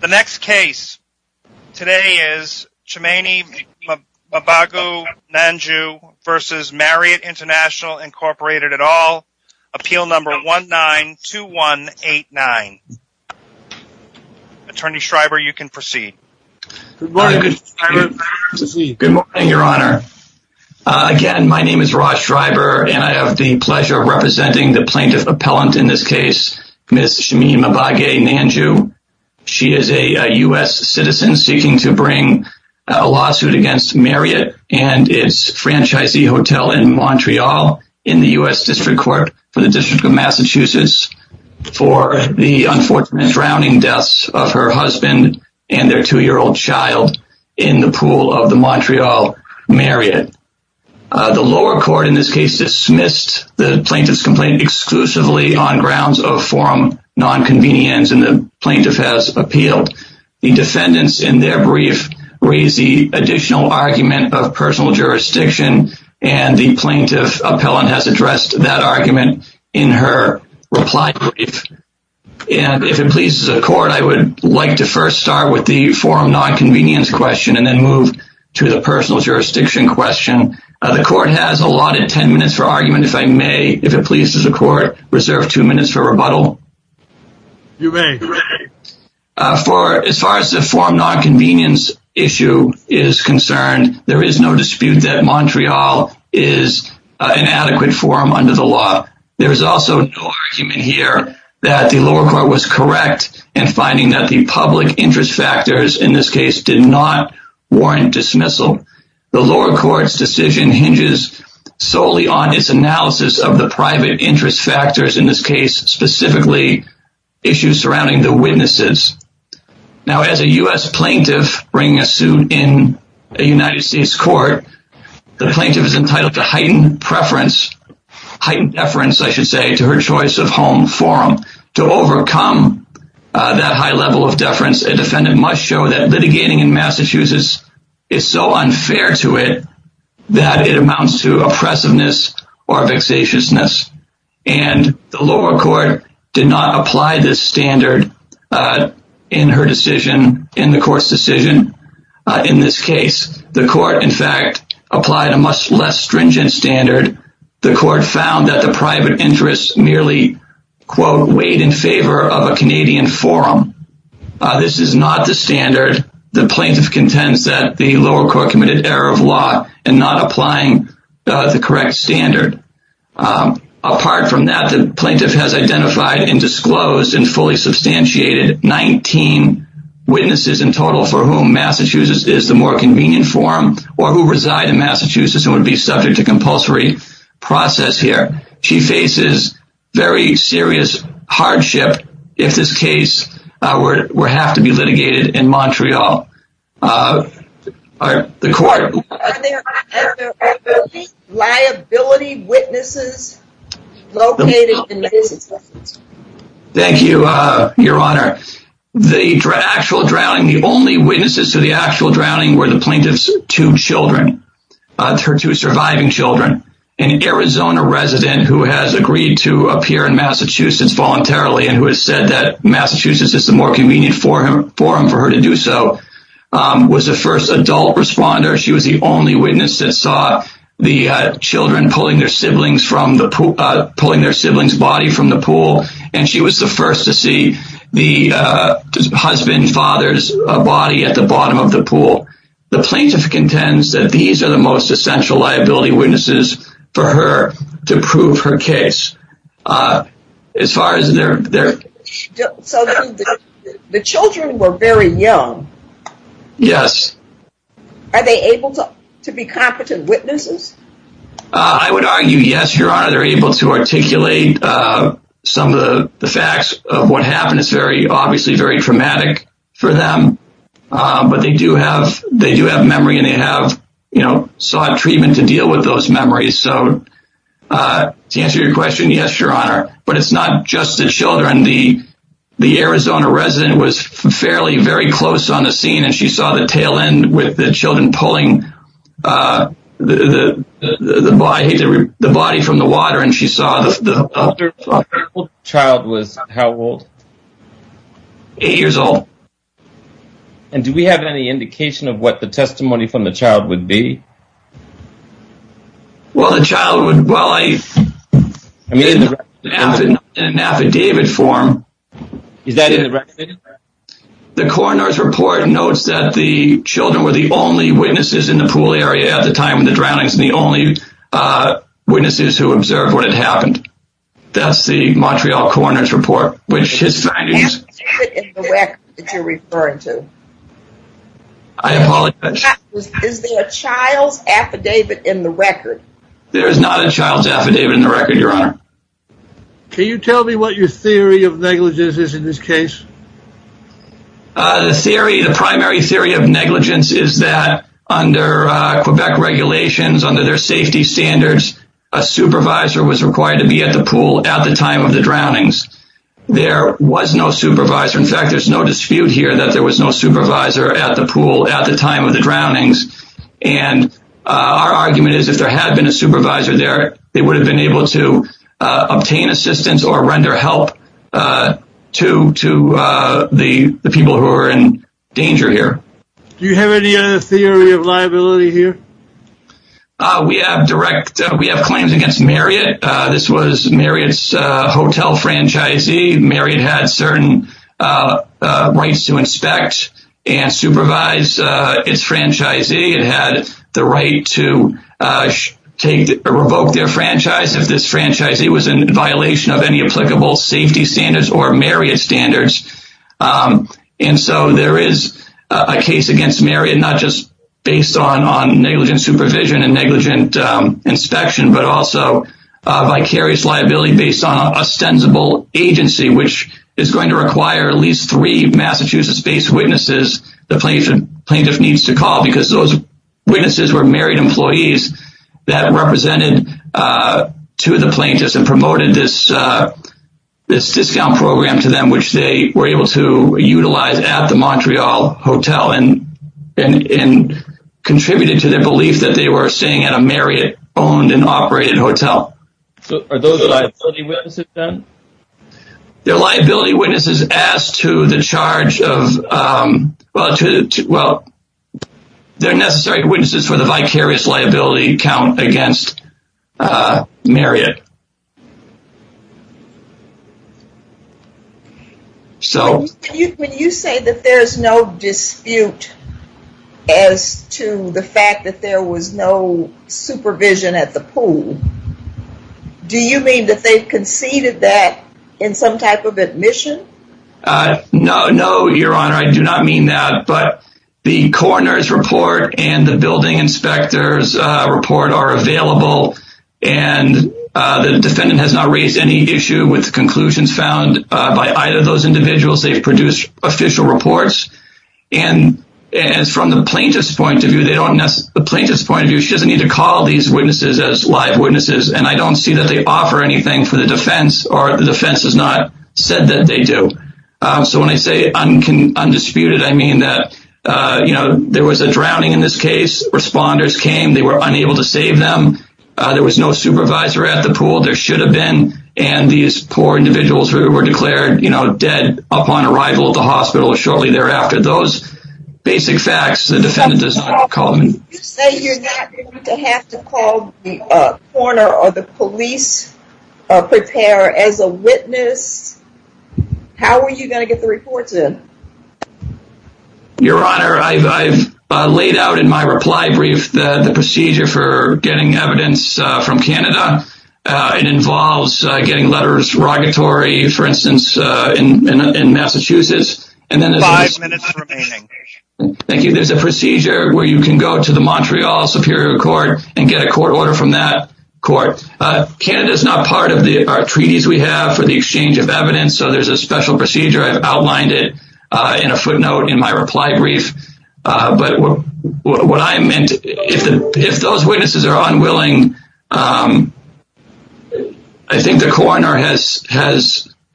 The next case today is Chimene Mbagu Nandjou v. Marriott Int'l, Inc. at all. Appeal number 192189. Attorney Schreiber, you can proceed. Good morning, your honor. Again, my name is Raj Schreiber, and I have the pleasure of representing the plaintiff appellant in this case, Ms. Chimene Mbagu Nandjou. She is a U.S. citizen seeking to bring a lawsuit against Marriott and its franchisee hotel in Montreal in the U.S. District Court for the District of Massachusetts for the unfortunate drowning deaths of her husband and their two-year-old child in the pool of the Montreal Marriott. The lower court in this case dismissed the plaintiff's complaint exclusively on grounds of forum nonconvenience, and the plaintiff has appealed. The defendants in their brief raise the additional argument of personal jurisdiction, and the plaintiff appellant has addressed that argument in her reply brief. And if it pleases the court, I would like to first start with the forum nonconvenience question and then move to the personal jurisdiction question. The court has allotted 10 minutes for argument, if it pleases the court, reserve two minutes for rebuttal. For as far as the forum nonconvenience issue is concerned, there is no dispute that Montreal is an adequate forum under the law. There is also no argument here that the lower court was correct in finding that the public interest factors in this case did not warrant dismissal. The lower court's decision hinges solely on its analysis of the private interest factors in this case, specifically issues surrounding the witnesses. Now, as a U.S. plaintiff bringing a suit in a United States court, the plaintiff is entitled to heightened preference, heightened deference, I should say, to her choice of home forum. To overcome that high level of deference, a defendant must show that litigating in Massachusetts is so unfair to it that it amounts to oppressiveness or vexatiousness. And the lower court did not apply this standard in her decision, in the court's decision in this case. The court, in fact, applied a much less stringent standard. The court found that the private interest merely weighed in favor of a Canadian forum. This is not the standard the plaintiff contends that the lower court committed error of law in not applying the correct standard. Apart from that, the plaintiff has identified and disclosed and fully substantiated 19 witnesses in total for whom Massachusetts is the more convenient forum or who reside in Massachusetts and would be subject to compulsory process here. She faces very serious hardship if this case were to have to be litigated in Montreal. The court... Are there liability witnesses located in Massachusetts? Thank you, Your Honor. The actual drowning, the only witnesses to the actual drowning were the children. An Arizona resident who has agreed to appear in Massachusetts voluntarily and who has said that Massachusetts is the more convenient forum for her to do so was the first adult responder. She was the only witness that saw the children pulling their siblings from the pool, pulling their siblings' body from the pool. And she was the first to see the husband, father's body at the bottom of the pool. The plaintiff contends that these are the most essential liability witnesses for her to prove her case as far as their... So the children were very young. Yes. Are they able to be competent witnesses? I would argue yes, Your Honor. They're able to articulate some of the facts of what happened. It's very obviously very traumatic for them, but they do have memory and they have sought treatment to deal with those memories. So to answer your question, yes, Your Honor. But it's not just the children. The Arizona resident was fairly very close on the scene, and she saw the tail end with the children pulling the body from the water, and she saw the... How old was the child? How old? Eight years old. And do we have any indication of what the testimony from the child would be? Well, the child would... Well, in an affidavit form... Is that in the record? The coroner's report notes that the children were the only witnesses in the pool area at the time of the drownings and the only witnesses who observed what had happened. That's the Montreal coroner's report, which his findings... Affidavit in the record that you're referring to? I apologize. Is there a child's affidavit in the record? There is not a child's affidavit in the record, Your Honor. Can you tell me what your theory of negligence is in this case? The theory, the primary theory of negligence is that under Quebec regulations, under their safety standards, a supervisor was required to be at the pool at the time of the drownings. There was no supervisor. In fact, there's no dispute here that there was no supervisor at the pool at the time of the drownings. And our argument is if there had been a supervisor there, they would have been able to obtain assistance or render help to the people who are in danger here. Do you have any other theory of liability here? We have claims against Marriott. This was Marriott's hotel franchisee. Marriott had certain rights to inspect and supervise its franchisee. It had the right to revoke their franchise if this franchisee was in violation of any case against Marriott, not just based on negligent supervision and negligent inspection, but also vicarious liability based on ostensible agency, which is going to require at least three Massachusetts-based witnesses the plaintiff needs to call because those witnesses were Marriott employees that represented two of the plaintiffs and promoted this discount program to them, which they were able to utilize at the Montreal Hotel and contributed to their belief that they were staying at a Marriott-owned and operated hotel. So are those liability witnesses then? They're liability witnesses as to the charge of, well, they're necessary witnesses for the vicarious liability count against Marriott. So when you say that there's no dispute as to the fact that there was no supervision at the pool, do you mean that they conceded that in some type of admission? Uh, no, no, Your Honor. I do not mean that, but the coroner's report and the building inspector's report are available, and the defendant has not raised any issue with conclusions found by either of those individuals. They've produced official reports, and as from the plaintiff's point of view, they don't necessarily—the plaintiff's point of view, she doesn't need to call these witnesses as live witnesses, and I don't see that they offer anything for the defense, or the defense has not said that they do. So when I say undisputed, I mean that, you know, there was a drowning in this case. Responders came. They were unable to save them. There was no supervisor at the pool. There should have been, and these poor individuals who were declared, you know, dead upon arrival at the hospital shortly thereafter, those basic facts, the defendant does not call them. You say you're not going to have to call the coroner or the police prepare as a witness. How are you going to get the reports in? Your Honor, I've laid out in my reply brief the procedure for getting evidence from Canada. It involves getting letters, regulatory, for instance, in Massachusetts, and then— Five minutes remaining. Thank you. There's a procedure where you can go to the Montreal Superior Court and get a court order from that court. Canada is not part of the treaties we have for the exchange of evidence, so there's a special procedure. I've outlined it in a footnote in my reply brief, but what I meant—if those witnesses are unwilling, I think the coroner has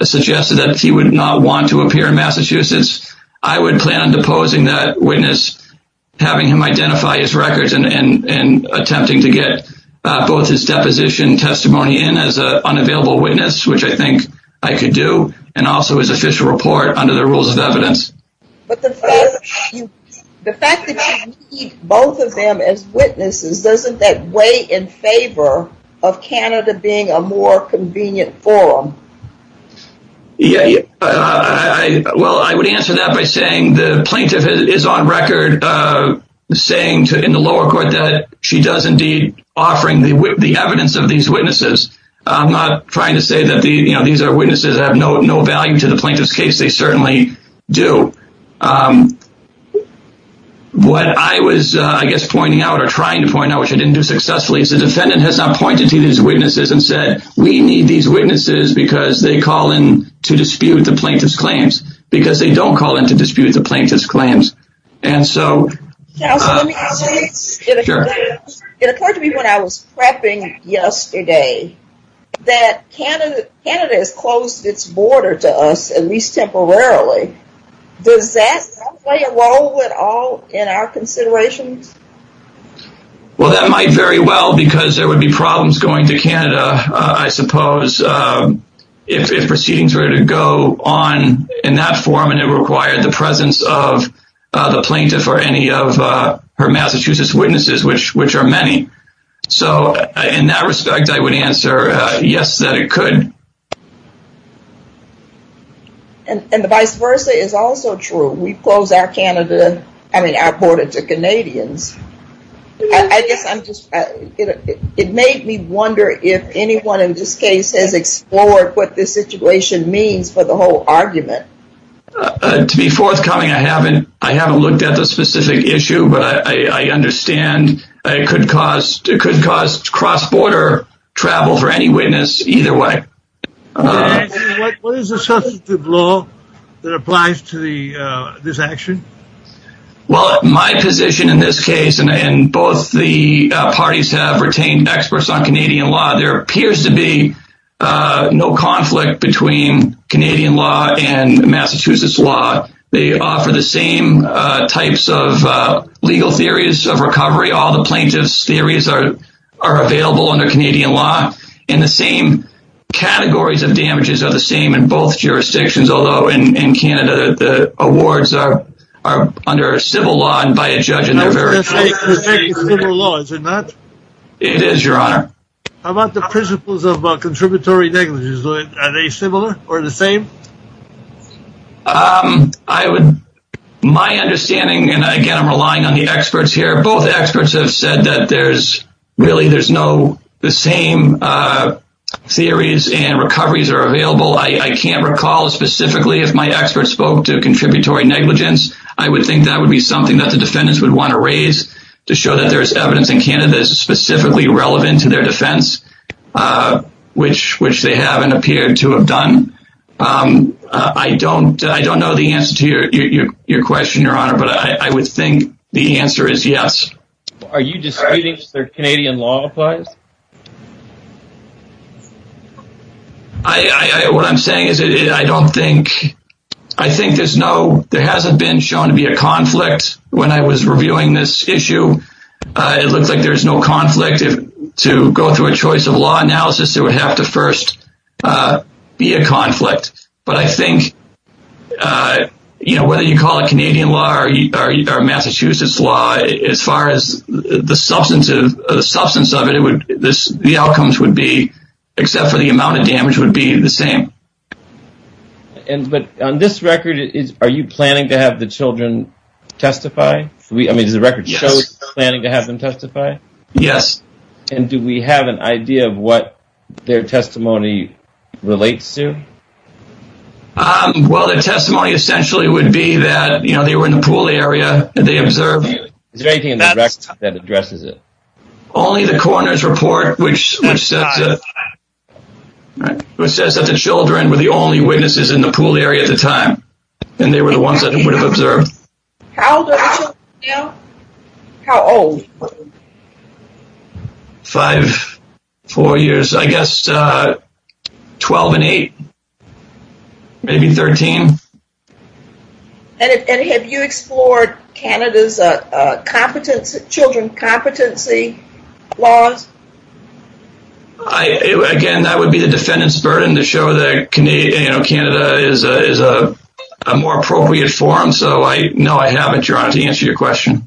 suggested that he would not want to appear in Massachusetts. I would plan on deposing that witness, having him identify his case, and attempting to get both his deposition testimony in as an unavailable witness, which I think I could do, and also his official report under the rules of evidence. But the fact that you need both of them as witnesses, doesn't that weigh in favor of Canada being a more convenient forum? Well, I would answer that by saying the plaintiff is on record saying in the lower court that she does indeed offering the evidence of these witnesses. I'm not trying to say that these are witnesses that have no value to the plaintiff's case. They certainly do. What I was, I guess, pointing out or trying to point out, which I didn't do successfully, is the defendant has not pointed to these witnesses and said, we need these witnesses because they call in to dispute the plaintiff's claims, it occurred to me when I was prepping yesterday that Canada has closed its border to us, at least temporarily. Does that play a role at all in our considerations? Well, that might very well because there would be problems going to Canada, I suppose, if proceedings were to go on in that forum and it required the presence of the plaintiff or any of her Massachusetts witnesses, which are many. So in that respect, I would answer yes, that it could. And the vice versa is also true. We've closed our Canada, I mean, our border to Canadians. It made me wonder if anyone in this case has explored what this situation means for the whole argument. To be forthcoming, I haven't looked at the specific issue, but I understand it could cause cross-border travel for any witness either way. What is the substantive law that applies to this action? Well, my position in this case, and both the parties have retained experts on Canadian law, there appears to be no conflict between Canadian law and Massachusetts law. They offer the same types of legal theories of recovery. All the plaintiff's theories are available under Canadian law, and the same categories of damages are the same in both jurisdictions, although in Canada, the awards are under civil law and by a judge. It is, Your Honor. How about the principles of contributory negligence? Are they similar or the same? I would, my understanding, and again, I'm relying on the experts here, both experts have said that there's really, there's no, the same theories and recoveries are available. I can't recall specifically if my expert spoke to contributory negligence. I would think that would be something that the defendants would want to raise to show that there's evidence in Canada specifically relevant to their defense, uh, which, which they haven't appeared to have done. Um, uh, I don't, I don't know the answer to your, your, your question, Your Honor, but I would think the answer is yes. Are you disputing that Canadian law applies? I, I, what I'm saying is I don't think, I think there's no, there hasn't been shown to be a conflict when I was reviewing this issue. Uh, it looks like there's no conflict if to go through a choice of law analysis, it would have to first, uh, be a conflict. But I think, uh, you know, whether you call it Canadian law or Massachusetts law, as far as the substance of the substance of it, it would, this, the outcomes would be, except for the amount of damage would be the same. And, but on this record, is, are you planning to have the children testify? I mean, does the record show planning to have them testify? Yes. And do we have an idea of what their testimony relates to? Um, well, the testimony essentially would be that, you know, they were in the pool area and they observed. Is there anything in the record that addresses it? Only the coroner's report, which, which says, uh, which says that the children were the only witnesses in the pool area at the time. And they were the ones that would have observed. How old are the children now? How old? Five, four years, I guess, uh, 12 and eight, maybe 13. And have you explored Canada's, uh, uh, competence, children competency laws? I, again, that would be the defendant's burden to show that, you know, Canada is a, is a No, I haven't your honor to answer your question.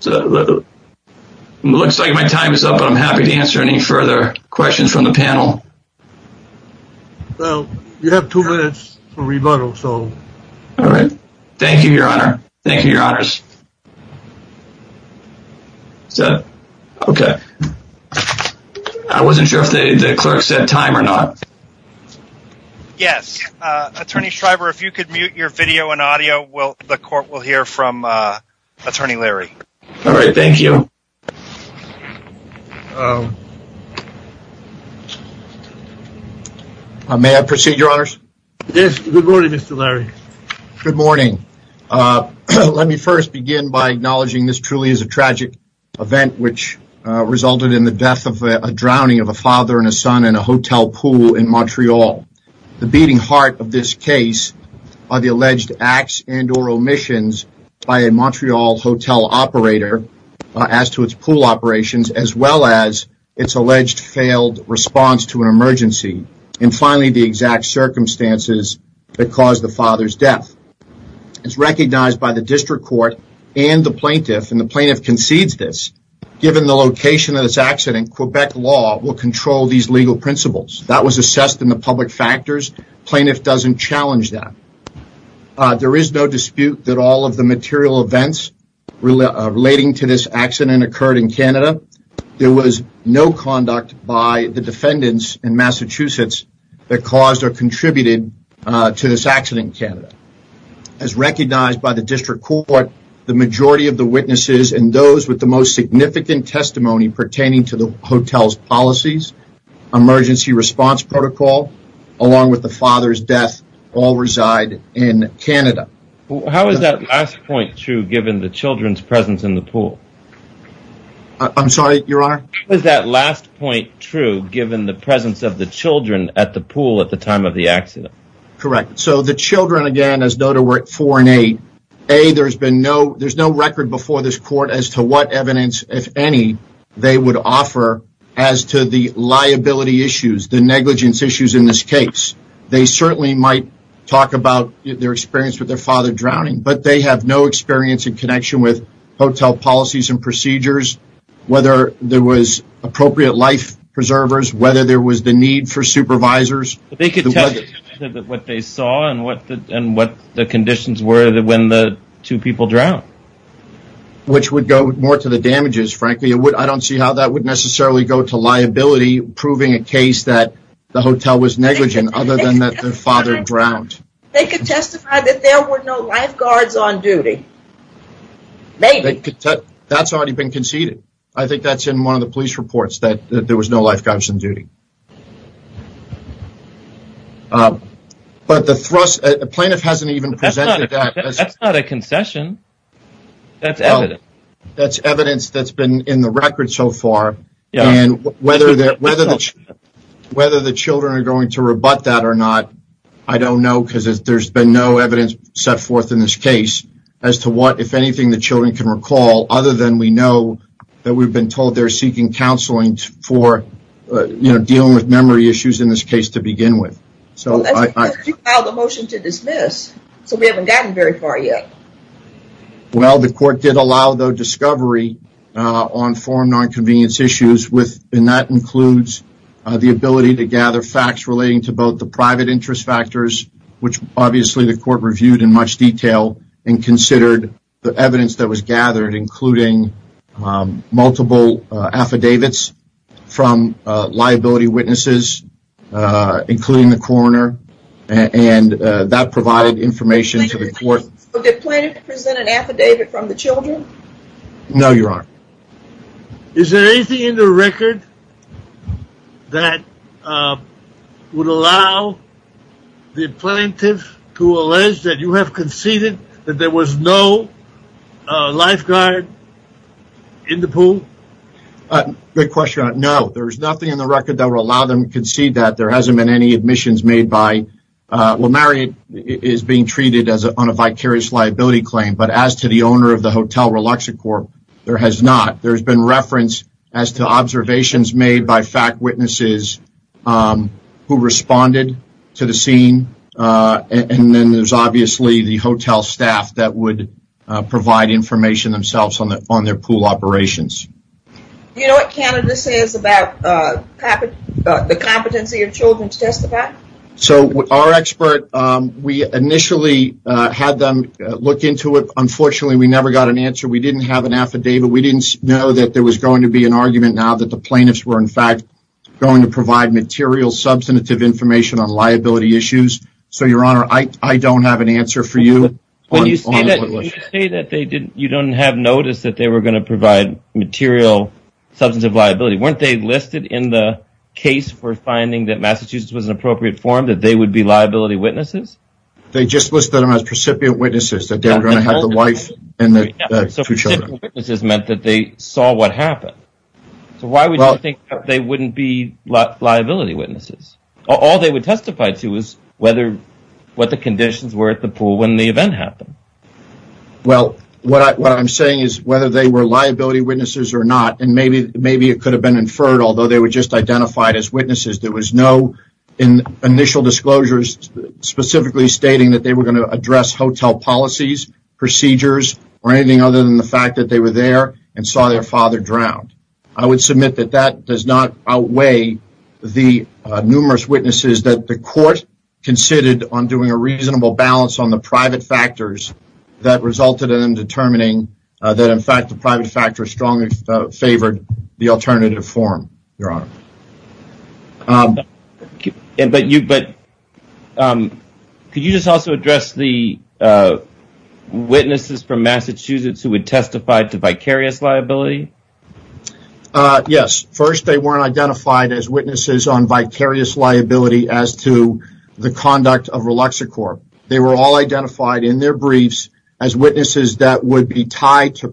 So it looks like my time is up, but I'm happy to answer any further questions from the panel. Well, you have two minutes for rebuttal, so. All right. Thank you, your honor. Thank you, your honors. So, okay. I wasn't sure if the clerk said time or not. Yes. Uh, attorney Shriver, if you could mute your video and audio, will the court will hear from, uh, attorney Larry. All right. Thank you. May I proceed, your honors? Yes. Good morning, Mr. Larry. Good morning. Uh, let me first begin by acknowledging this truly is a tragic event, which, uh, resulted in the death of a drowning of a father and a son in a hotel pool in Montreal. The beating heart of this case are the alleged acts and or omissions by a Montreal hotel operator, uh, as to its pool operations, as well as it's alleged failed response to an emergency. And finally, the exact circumstances that caused the father's death. It's recognized by the district court and the plaintiff and the plaintiff concedes this given the location of this accident, Quebec law will control these legal principles that was assessed in the public factors. Plaintiff doesn't challenge that. Uh, there is no dispute that all of the material events relating to this accident occurred in Canada. There was no conduct by the defendants in Massachusetts that caused or contributed, uh, to this accident in Canada as recognized by the hotel's policies, emergency response protocol, along with the father's death all reside in Canada. How is that last point true given the children's presence in the pool? I'm sorry, your honor. Is that last point true given the presence of the children at the pool at the time of the accident? Correct. So the children, again, as though to work for an aid, there's been no, there's no record before this court as to what evidence, if any, they would offer as to the liability issues, the negligence issues in this case. They certainly might talk about their experience with their father drowning, but they have no experience in connection with hotel policies and procedures, whether there was appropriate life preservers, whether there was the need for supervisors. They could tell what they saw and what the, and what the conditions were that when the two people drowned. Which would go more to the damages, frankly, it would, I don't see how that would necessarily go to liability proving a case that the hotel was negligent other than that their father drowned. They could testify that there were no lifeguards on duty. Maybe. That's already been conceded. I think that's in one of the police reports that there was no lifeguards on duty. But the thrust, the plaintiff hasn't even presented that. That's not a concession. That's evidence. That's evidence that's been in the record so far. And whether the children are going to rebut that or not, I don't know because there's been no evidence set forth in this case as to what, if anything, the children can recall other than we know that we've been told they're seeking counseling for, you know, dealing with memory issues in this case to begin with. Well, that's because you filed a motion to dismiss, so we haven't gotten very far yet. Well, the court did allow, though, discovery on foreign non-convenience issues with, and that includes the ability to gather facts relating to both the private interest factors, which obviously the court reviewed in much detail and considered the evidence that was gathered, including multiple affidavits from liability witnesses, including the coroner, and that provided information to the court. Did the plaintiff present an affidavit from the children? No, Your Honor. Is there anything in the record that would allow the plaintiff to allege that you have conceded that there was no lifeguard in the pool? Good question, Your Honor. No, there's nothing in the record that would allow them to concede that. There hasn't been any admissions made by, well, Marriott is being treated on a vicarious liability claim, but as to the owner of the Hotel Reluxacorp, there has not. There's been reference as to observations made by fact witnesses who responded to the scene, and then there's obviously the hotel staff that would provide information themselves on their pool operations. Do you know what Canada says about the competency of children to testify? So, our expert, we initially had them look into it. Unfortunately, we never got an answer. We didn't have an affidavit. We didn't know that there was going to be an argument now that the plaintiffs were in fact going to provide material substantive information on liability issues. So, Your Honor, I don't have an answer for you. You say that you don't have notice that they were going to provide material substantive liability. Weren't they listed in the case for finding that Massachusetts was an appropriate forum that they would be liability witnesses? They just listed them as precipient witnesses that they were going to have the wife and the two children. So, precipient witnesses meant that they saw what happened. So, why would you think they wouldn't be liability witnesses? All they would testify to is whether what the conditions were at the pool when the event happened. Well, what I'm saying is whether they were liability witnesses or not, and maybe it could have been inferred, although they were just identified as witnesses. There was no initial disclosures specifically stating that they were going to address hotel policies, procedures, or anything other than the fact that they were there and saw their father drown. I would submit that that does not outweigh the numerous witnesses that the court considered on doing a reasonable balance on the private factors that resulted in determining that, in fact, the private factor strongly favored the alternative form, Your Honor. But could you just also address the witnesses from Massachusetts who would testify to vicarious liability? Yes. First, they weren't identified as witnesses on vicarious liability as to the conduct of Reluxacorp. They were all identified in their briefs as witnesses that would be tied to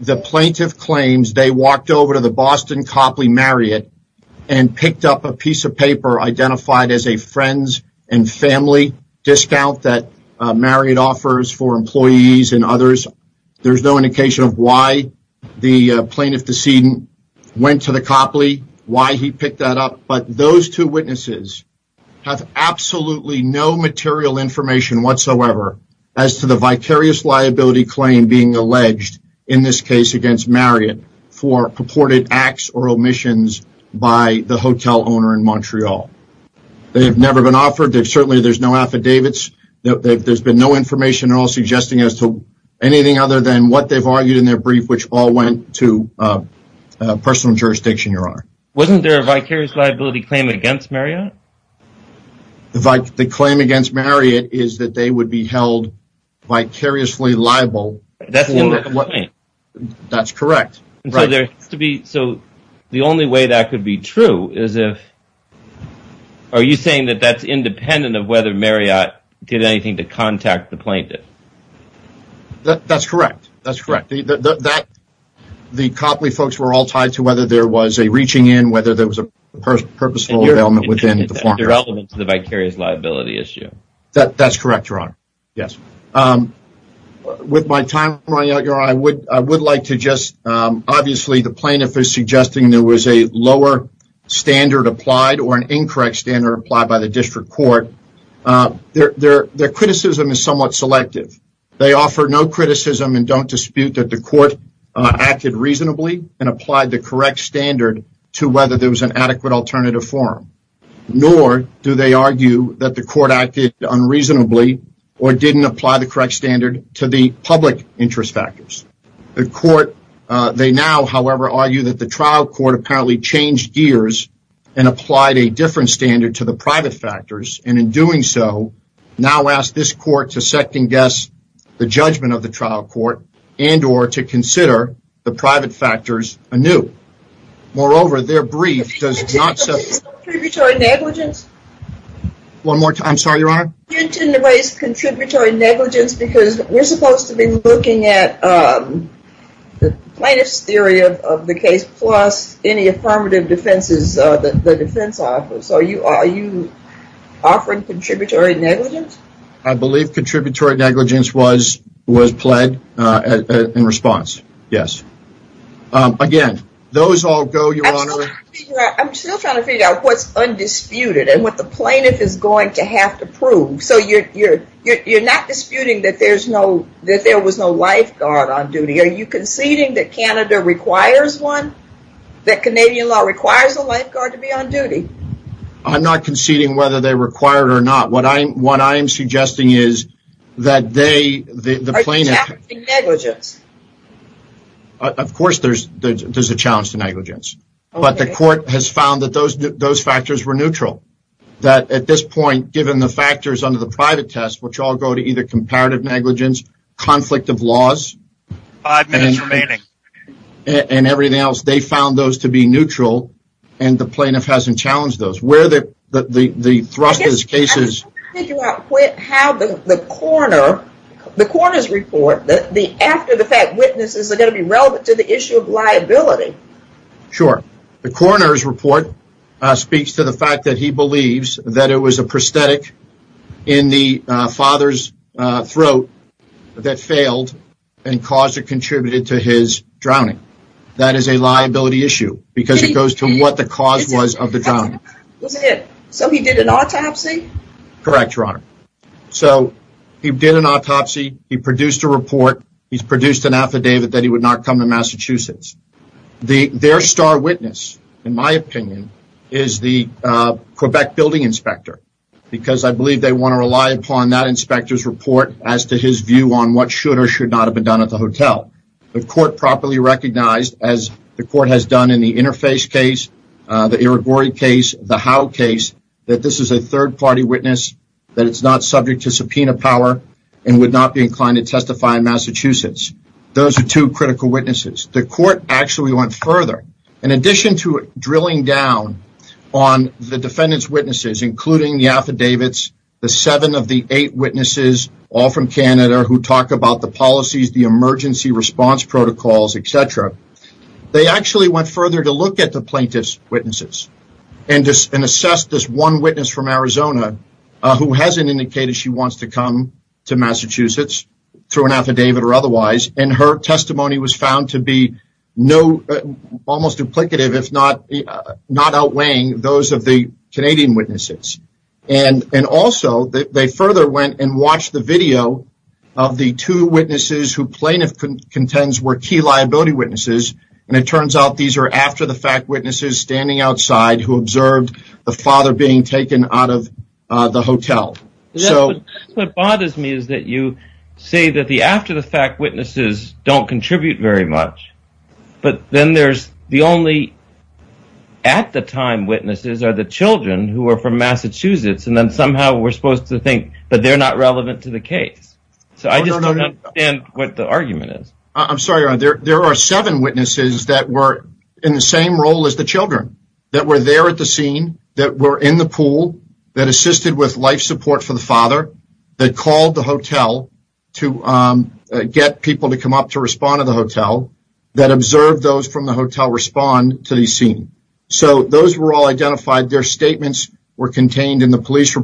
the plaintiff claims. They walked over to the Boston Copley Marriott and picked up a piece of paper identified as a friends and family discount that Marriott offers for employees and others. There's no indication of why the plaintiff decedent went to the Copley, why he picked that up, but those two witnesses have absolutely no material information whatsoever as to the vicarious liability claim being alleged in this case against Marriott for purported acts or omissions by the hotel owner in Montreal. They have never been offered. Certainly, there's no affidavits. There's been no information at all suggesting as to anything other than what they've argued in their brief, which all went to personal jurisdiction, Your Honor. Wasn't there a vicarious liability claim against Marriott? The claim against Marriott is that they would be held vicariously liable. That's the only complaint. That's correct. So, the only way that could be true is if... Are you saying that that's independent of whether Marriott did anything to contact the plaintiff? That's correct. That's correct. The Copley folks were all tied to whether there was a reaching in, whether there was a purposeful element within the form. The relevance of the vicarious liability issue. That's correct, Your Honor. Yes. With my time, I would like to just... Obviously, the plaintiff is suggesting there was a lower standard applied or an incorrect standard applied by the district court. Their criticism is somewhat selective. They offer no criticism and don't there was an adequate alternative form, nor do they argue that the court acted unreasonably or didn't apply the correct standard to the public interest factors. They now, however, argue that the trial court apparently changed gears and applied a different standard to the private factors, and in doing so, now ask this court to second guess the judgment of the trial court and or to consider the private factors anew. Moreover, their brief does not... One more time. I'm sorry, Your Honor. You intend to raise contributory negligence because we're supposed to be looking at the plaintiff's theory of the case plus any affirmative defenses that the defense offers. So, are you offering contributory negligence? I believe contributory negligence was pled in response. Yes. Again, those all go, Your Honor. I'm still trying to figure out what's undisputed and what the plaintiff is going to have to prove. So, you're not disputing that there was no lifeguard on duty. Are you conceding that Canada requires one? That Canadian law requires a lifeguard to be on duty? I'm not conceding whether they required or not. What I'm suggesting is that they... Of course, there's a challenge to negligence, but the court has found that those factors were neutral. That at this point, given the factors under the private test, which all go to either comparative negligence, conflict of laws, and everything else, they found those to be neutral and the plaintiff hasn't challenged those. Where the thrust of this case is... The coroner's report, after the fact, witnesses are going to be relevant to the issue of liability. Sure. The coroner's report speaks to the fact that he believes that it was a prosthetic in the father's throat that failed and caused or contributed to his drowning. That is a liability issue because it goes to what the cause was of the drowning. So, he did an autopsy? Correct, Your Honor. So, he did an autopsy. He produced a report. He's produced an affidavit that he would not come to Massachusetts. Their star witness, in my opinion, is the Quebec building inspector because I believe they want to rely upon that inspector's report as to his view on what should or should not have been done at the hotel. The court properly recognized, as the court has done in the Interface case, the Irigori case, the Howe case, that this is a third-party witness, that it's not subject to subpoena power, and would not be inclined to testify in Massachusetts. Those are two critical witnesses. The court actually went further. In addition to drilling down on the defendant's witnesses, including the affidavits, the seven of the eight witnesses, all from Canada, who talk about the policies, the emergency response protocols, etc., they actually went further to look at the plaintiff's witnesses and assess this one witness from Arizona who hasn't indicated she wants to come to Massachusetts through an affidavit or otherwise, and her testimony was found to be almost duplicative, if not outweighing those of the Canadian witnesses. Also, they further went and watched the video of the two witnesses who plaintiff contends were key liability witnesses, and it turns out these are after-the-fact witnesses standing outside who observed the father being taken out of the hotel. That's what bothers me, is that you say that the after-the-fact witnesses don't contribute very much, but then there's the only at-the-time witnesses are the children who are from Massachusetts, and then somehow we're supposed to think that they're not relevant to the case. So, I just don't understand what the argument is. I'm sorry, there are seven witnesses that were in the same role as the children, that were there at the scene, that were in the pool, that assisted with life support for the father, that called the hotel to get people to come up to respond to the hotel, that observed those from the hotel respond to the scene. So, those were all identified, their statements were Canadian residents.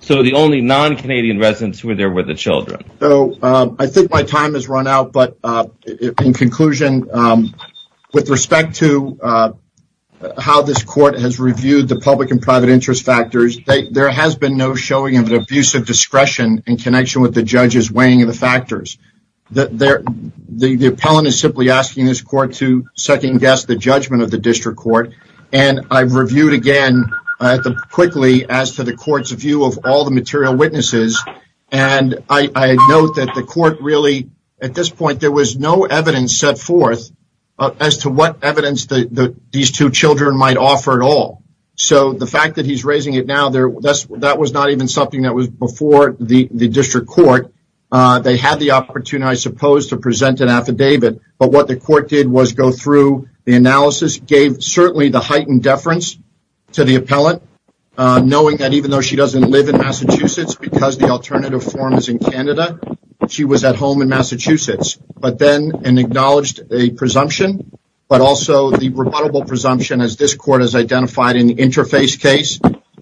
So, the only non-Canadian residents who were there were the children. So, I think my time has run out, but in conclusion, with respect to how this court has reviewed the public and private interest factors, there has been no showing of an abuse of discretion in connection with the judge's weighing of the factors. The appellant is simply asking this court to second-guess the judgment of the district court, and I've reviewed again quickly as to the court's view of all the material witnesses, and I note that the court really, at this point, there was no evidence set forth as to what evidence these two children might offer at all. So, the fact that he's raising it now, that was not even something that was before the district court. They had the opportunity, I suppose, to present an affidavit, but what the to the appellant, knowing that even though she doesn't live in Massachusetts, because the alternative form is in Canada, she was at home in Massachusetts, but then, and acknowledged a presumption, but also the rebuttable presumption as this court has identified in the interface case,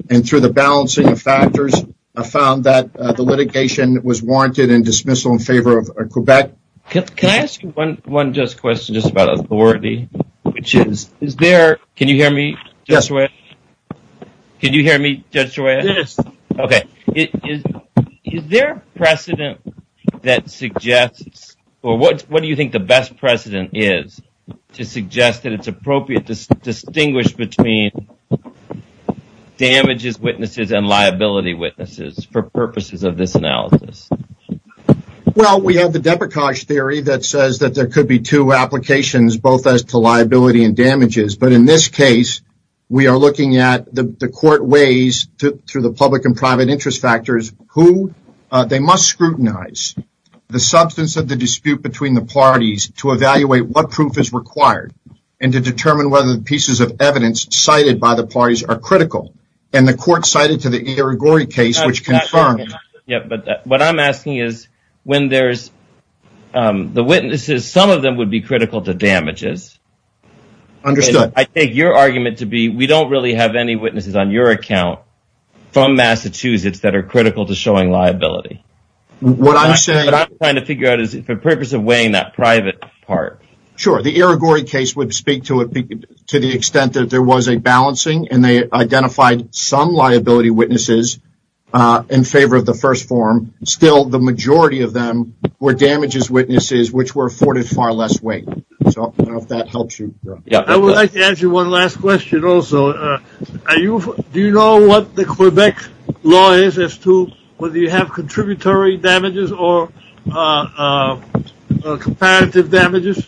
and through the balancing of factors, I found that the litigation was warranted in dismissal in favor of Quebec. Can I ask you one just question, just about authority, which is, is there, can you hear me? Yes. Can you hear me? Yes. Okay. Is there precedent that suggests, or what do you think the best precedent is to suggest that it's appropriate to distinguish between damages witnesses and liability witnesses for purposes of this analysis? Well, we have the Deprecage theory that says that there could be two applications, both as to liability and damages, but in this case, we are looking at the court ways to, through the public and private interest factors, who they must scrutinize the substance of the dispute between the parties to evaluate what proof is required and to determine whether the pieces of evidence cited by the parties are critical. And the court cited to the Irigori case, which confirmed. Yeah, but what I'm asking is when there's the witnesses, some of them would be critical to damages. Understood. I take your argument to be, we don't really have any witnesses on your account from Massachusetts that are critical to showing liability. What I'm saying, what I'm trying to figure out is for purpose of weighing that private part. Sure. The Irigori case would speak to it to the extent that there was a balancing and they identified some liability witnesses in favor of the first form. Still, the majority of them were damages witnesses, which were afforded far less weight. So I don't know if that helps you. I would like to ask you one last question. Also, do you know what the Quebec law is as to whether you have contributory damages or comparative damages?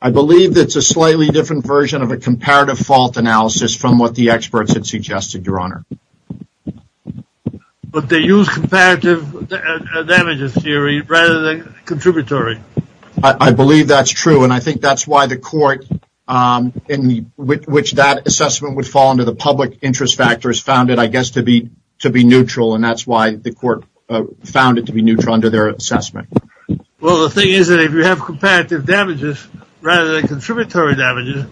I believe that's a slightly different version of a comparative fault analysis from what the experts had suggested, Your Honor. But they use comparative damages theory rather than contributory. I believe that's true. And I think that's why the court in which that assessment would fall into the public interest factors found it, I guess, to be neutral. And that's why the court found it to be neutral under their assessment. Well, the thing is that if you have comparative damages rather than contributory damages,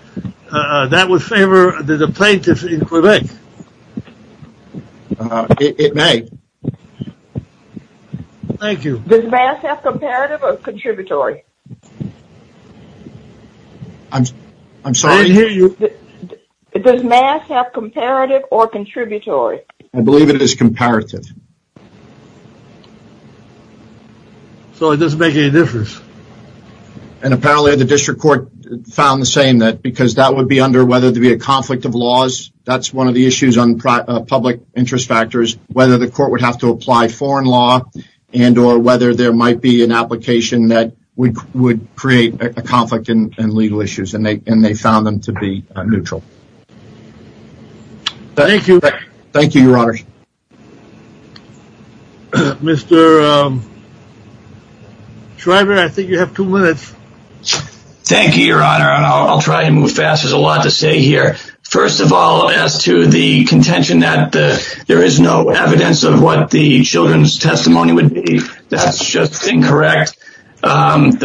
that would favor the plaintiffs in Quebec. It may. Thank you. Does MAS have comparative or contributory? I'm sorry? I didn't hear you. Does MAS have comparative or contributory? I believe it is comparative. So it doesn't make any difference. And apparently the district court found the same that because that would be under whether there be a conflict of laws. That's one of the issues on public interest factors, whether the court would have to apply foreign law and or whether there might be an application that would create a conflict in legal issues. And they found them to be neutral. Thank you. Thank you, Your Honor. Mr. Schreiber, I think you have two minutes. Thank you, Your Honor. I'll try to move fast. There's a lot to say here. First of all, as to the contention that there is no evidence of what the children's testimony would be, that's just incorrect. On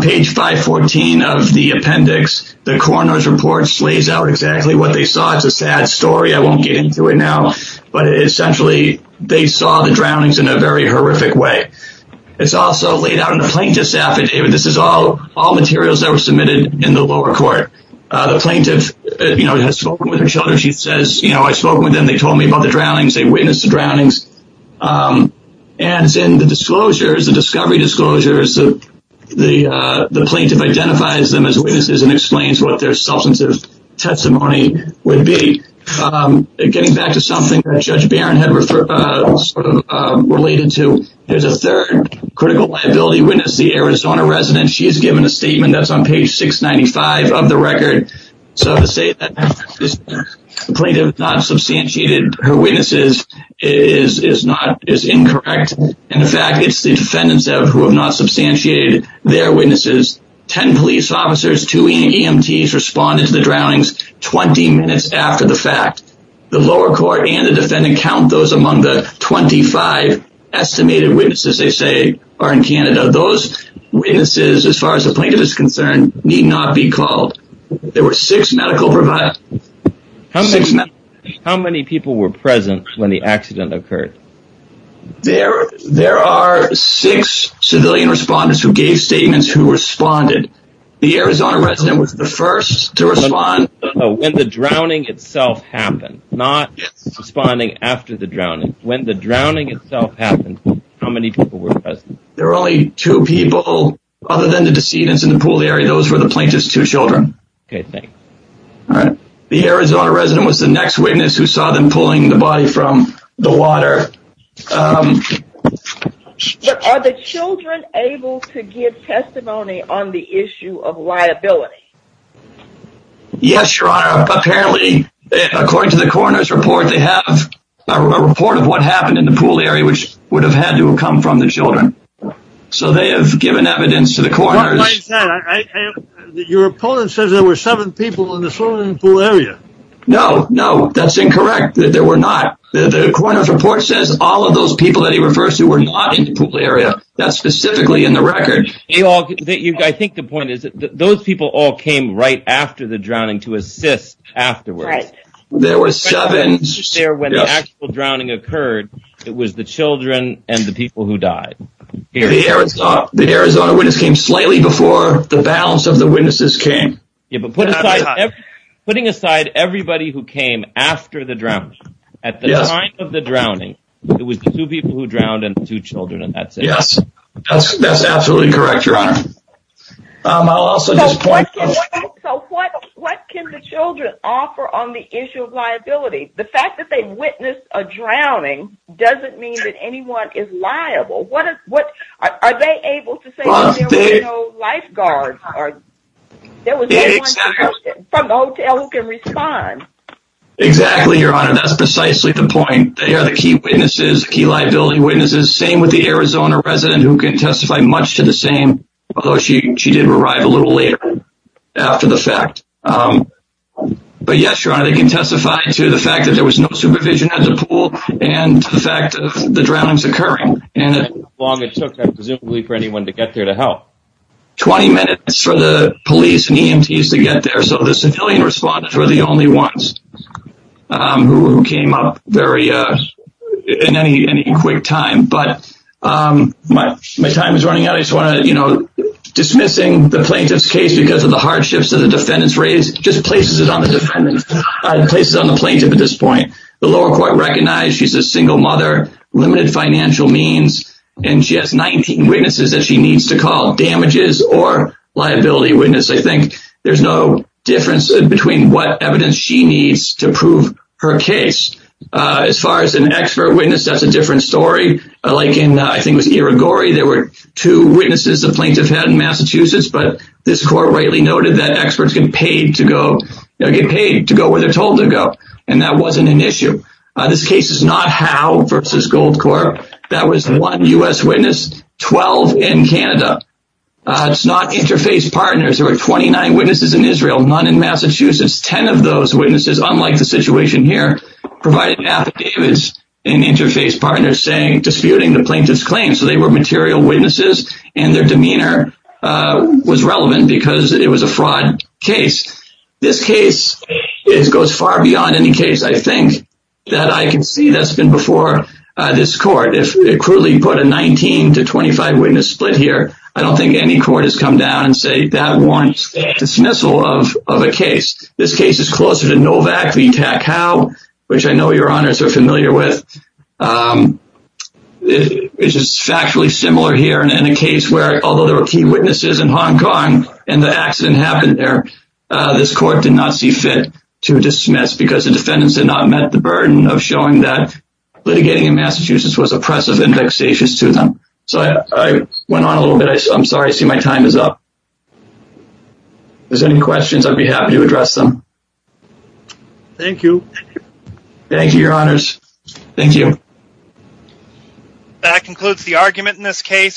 page 514 of the appendix, the coroner's report lays out exactly what they saw. It's a sad story. I won't get into it now. But essentially, they saw the drownings in a very horrific way. It's also laid out in the plaintiff's affidavit. This is all all materials that were submitted in the lower court. The plaintiff, you know, has spoken with her children. She says, you know, I spoke with them. They told me about the drownings. They witnessed the drownings. And in the disclosures, the discovery identifies them as witnesses and explains what their substantive testimony would be. Getting back to something that Judge Barron had sort of related to, there's a third critical liability witness, the Arizona resident. She's given a statement that's on page 695 of the record. So to say that the plaintiff not substantiated her witnesses is incorrect. In fact, it's the defendants who have not substantiated their witnesses. 10 police officers, two EMTs responded to the drownings 20 minutes after the fact. The lower court and the defendant count those among the 25 estimated witnesses, they say, are in Canada. Those witnesses, as far as the plaintiff is concerned, need not be called. There were six medical providers. How many people were present when the accident occurred? There are six civilian respondents who gave statements who responded. The Arizona resident was the first to respond. When the drowning itself happened, not responding after the drowning, when the drowning itself happened, how many people were present? There were only two people other than the decedents in the pool area. Those were the plaintiff's two children. Okay, thanks. All right. The Arizona resident was the next witness who saw them pulling the body from the water. Are the children able to give testimony on the issue of liability? Yes, Your Honor. Apparently, according to the coroner's report, they have a report of what happened in the pool area, which would have had to have come from the children. So they have given evidence to the coroner. Your opponent says there were seven people in the pool area. No, no, that's incorrect. There were not. The coroner's report says all of those people that he refers to were not in the pool area. That's specifically in the record. I think the point is that those people all came right after the drowning to assist afterwards. There were seven. When the actual drowning occurred, it was the children and the people who died. The Arizona witness came slightly before the balance of the witnesses came. Yeah, but putting aside everybody who came after the drowning, at the time of the drowning, it was two people who drowned and two children, and that's it. Yes, that's absolutely correct, Your Honor. I'll also just point out... So what can the children offer on the issue of liability? The fact that they witnessed a doesn't mean that anyone is liable. Are they able to say there were no lifeguards or there was no one from the hotel who can respond? Exactly, Your Honor. That's precisely the point. They are the key witnesses, key liability witnesses. Same with the Arizona resident who can testify much to the same, although she did arrive a little later after the fact. But yes, Your Honor, they can testify to the fact that there was no supervision at the pool and the fact of the drownings occurring. How long it took, presumably, for anyone to get there to help? 20 minutes for the police and EMTs to get there, so the civilian respondents were the only ones who came up in any quick time. But my time is running out. I just want to... Dismissing the plaintiff's case because of the hardships that the defendants raised just places it on the plaintiff at this point. The lower court recognized she's a single mother, limited financial means, and she has 19 witnesses that she needs to call damages or liability witness. I think there's no difference between what evidence she needs to prove her case. As far as an expert witness, that's a different story. Like in, I think it was Irigori, there were two witnesses the plaintiff had in Massachusetts, but this court rightly noted that experts get paid to go where they're told to go, and that wasn't an issue. This case is not Howe versus Goldcore. That was one U.S. witness, 12 in Canada. It's not interfaith partners. There were 29 witnesses in Israel, none in Massachusetts. 10 of those witnesses, unlike the situation here, provided affidavits and interfaith partners saying, disputing the plaintiff's claim. So they were material far beyond any case, I think, that I can see that's been before this court. If it crudely put a 19 to 25 witness split here, I don't think any court has come down and say that warrants dismissal of a case. This case is closer to Novak v. Tack Howe, which I know your honors are familiar with. It's just factually similar here in a case where, although there were key witnesses in Hong the defendants had not met the burden of showing that litigating in Massachusetts was oppressive and vexatious to them. So I went on a little bit. I'm sorry. I see my time is up. If there's any questions, I'd be happy to address them. Thank you. Thank you, your honors. Thank you. That concludes the argument in this case.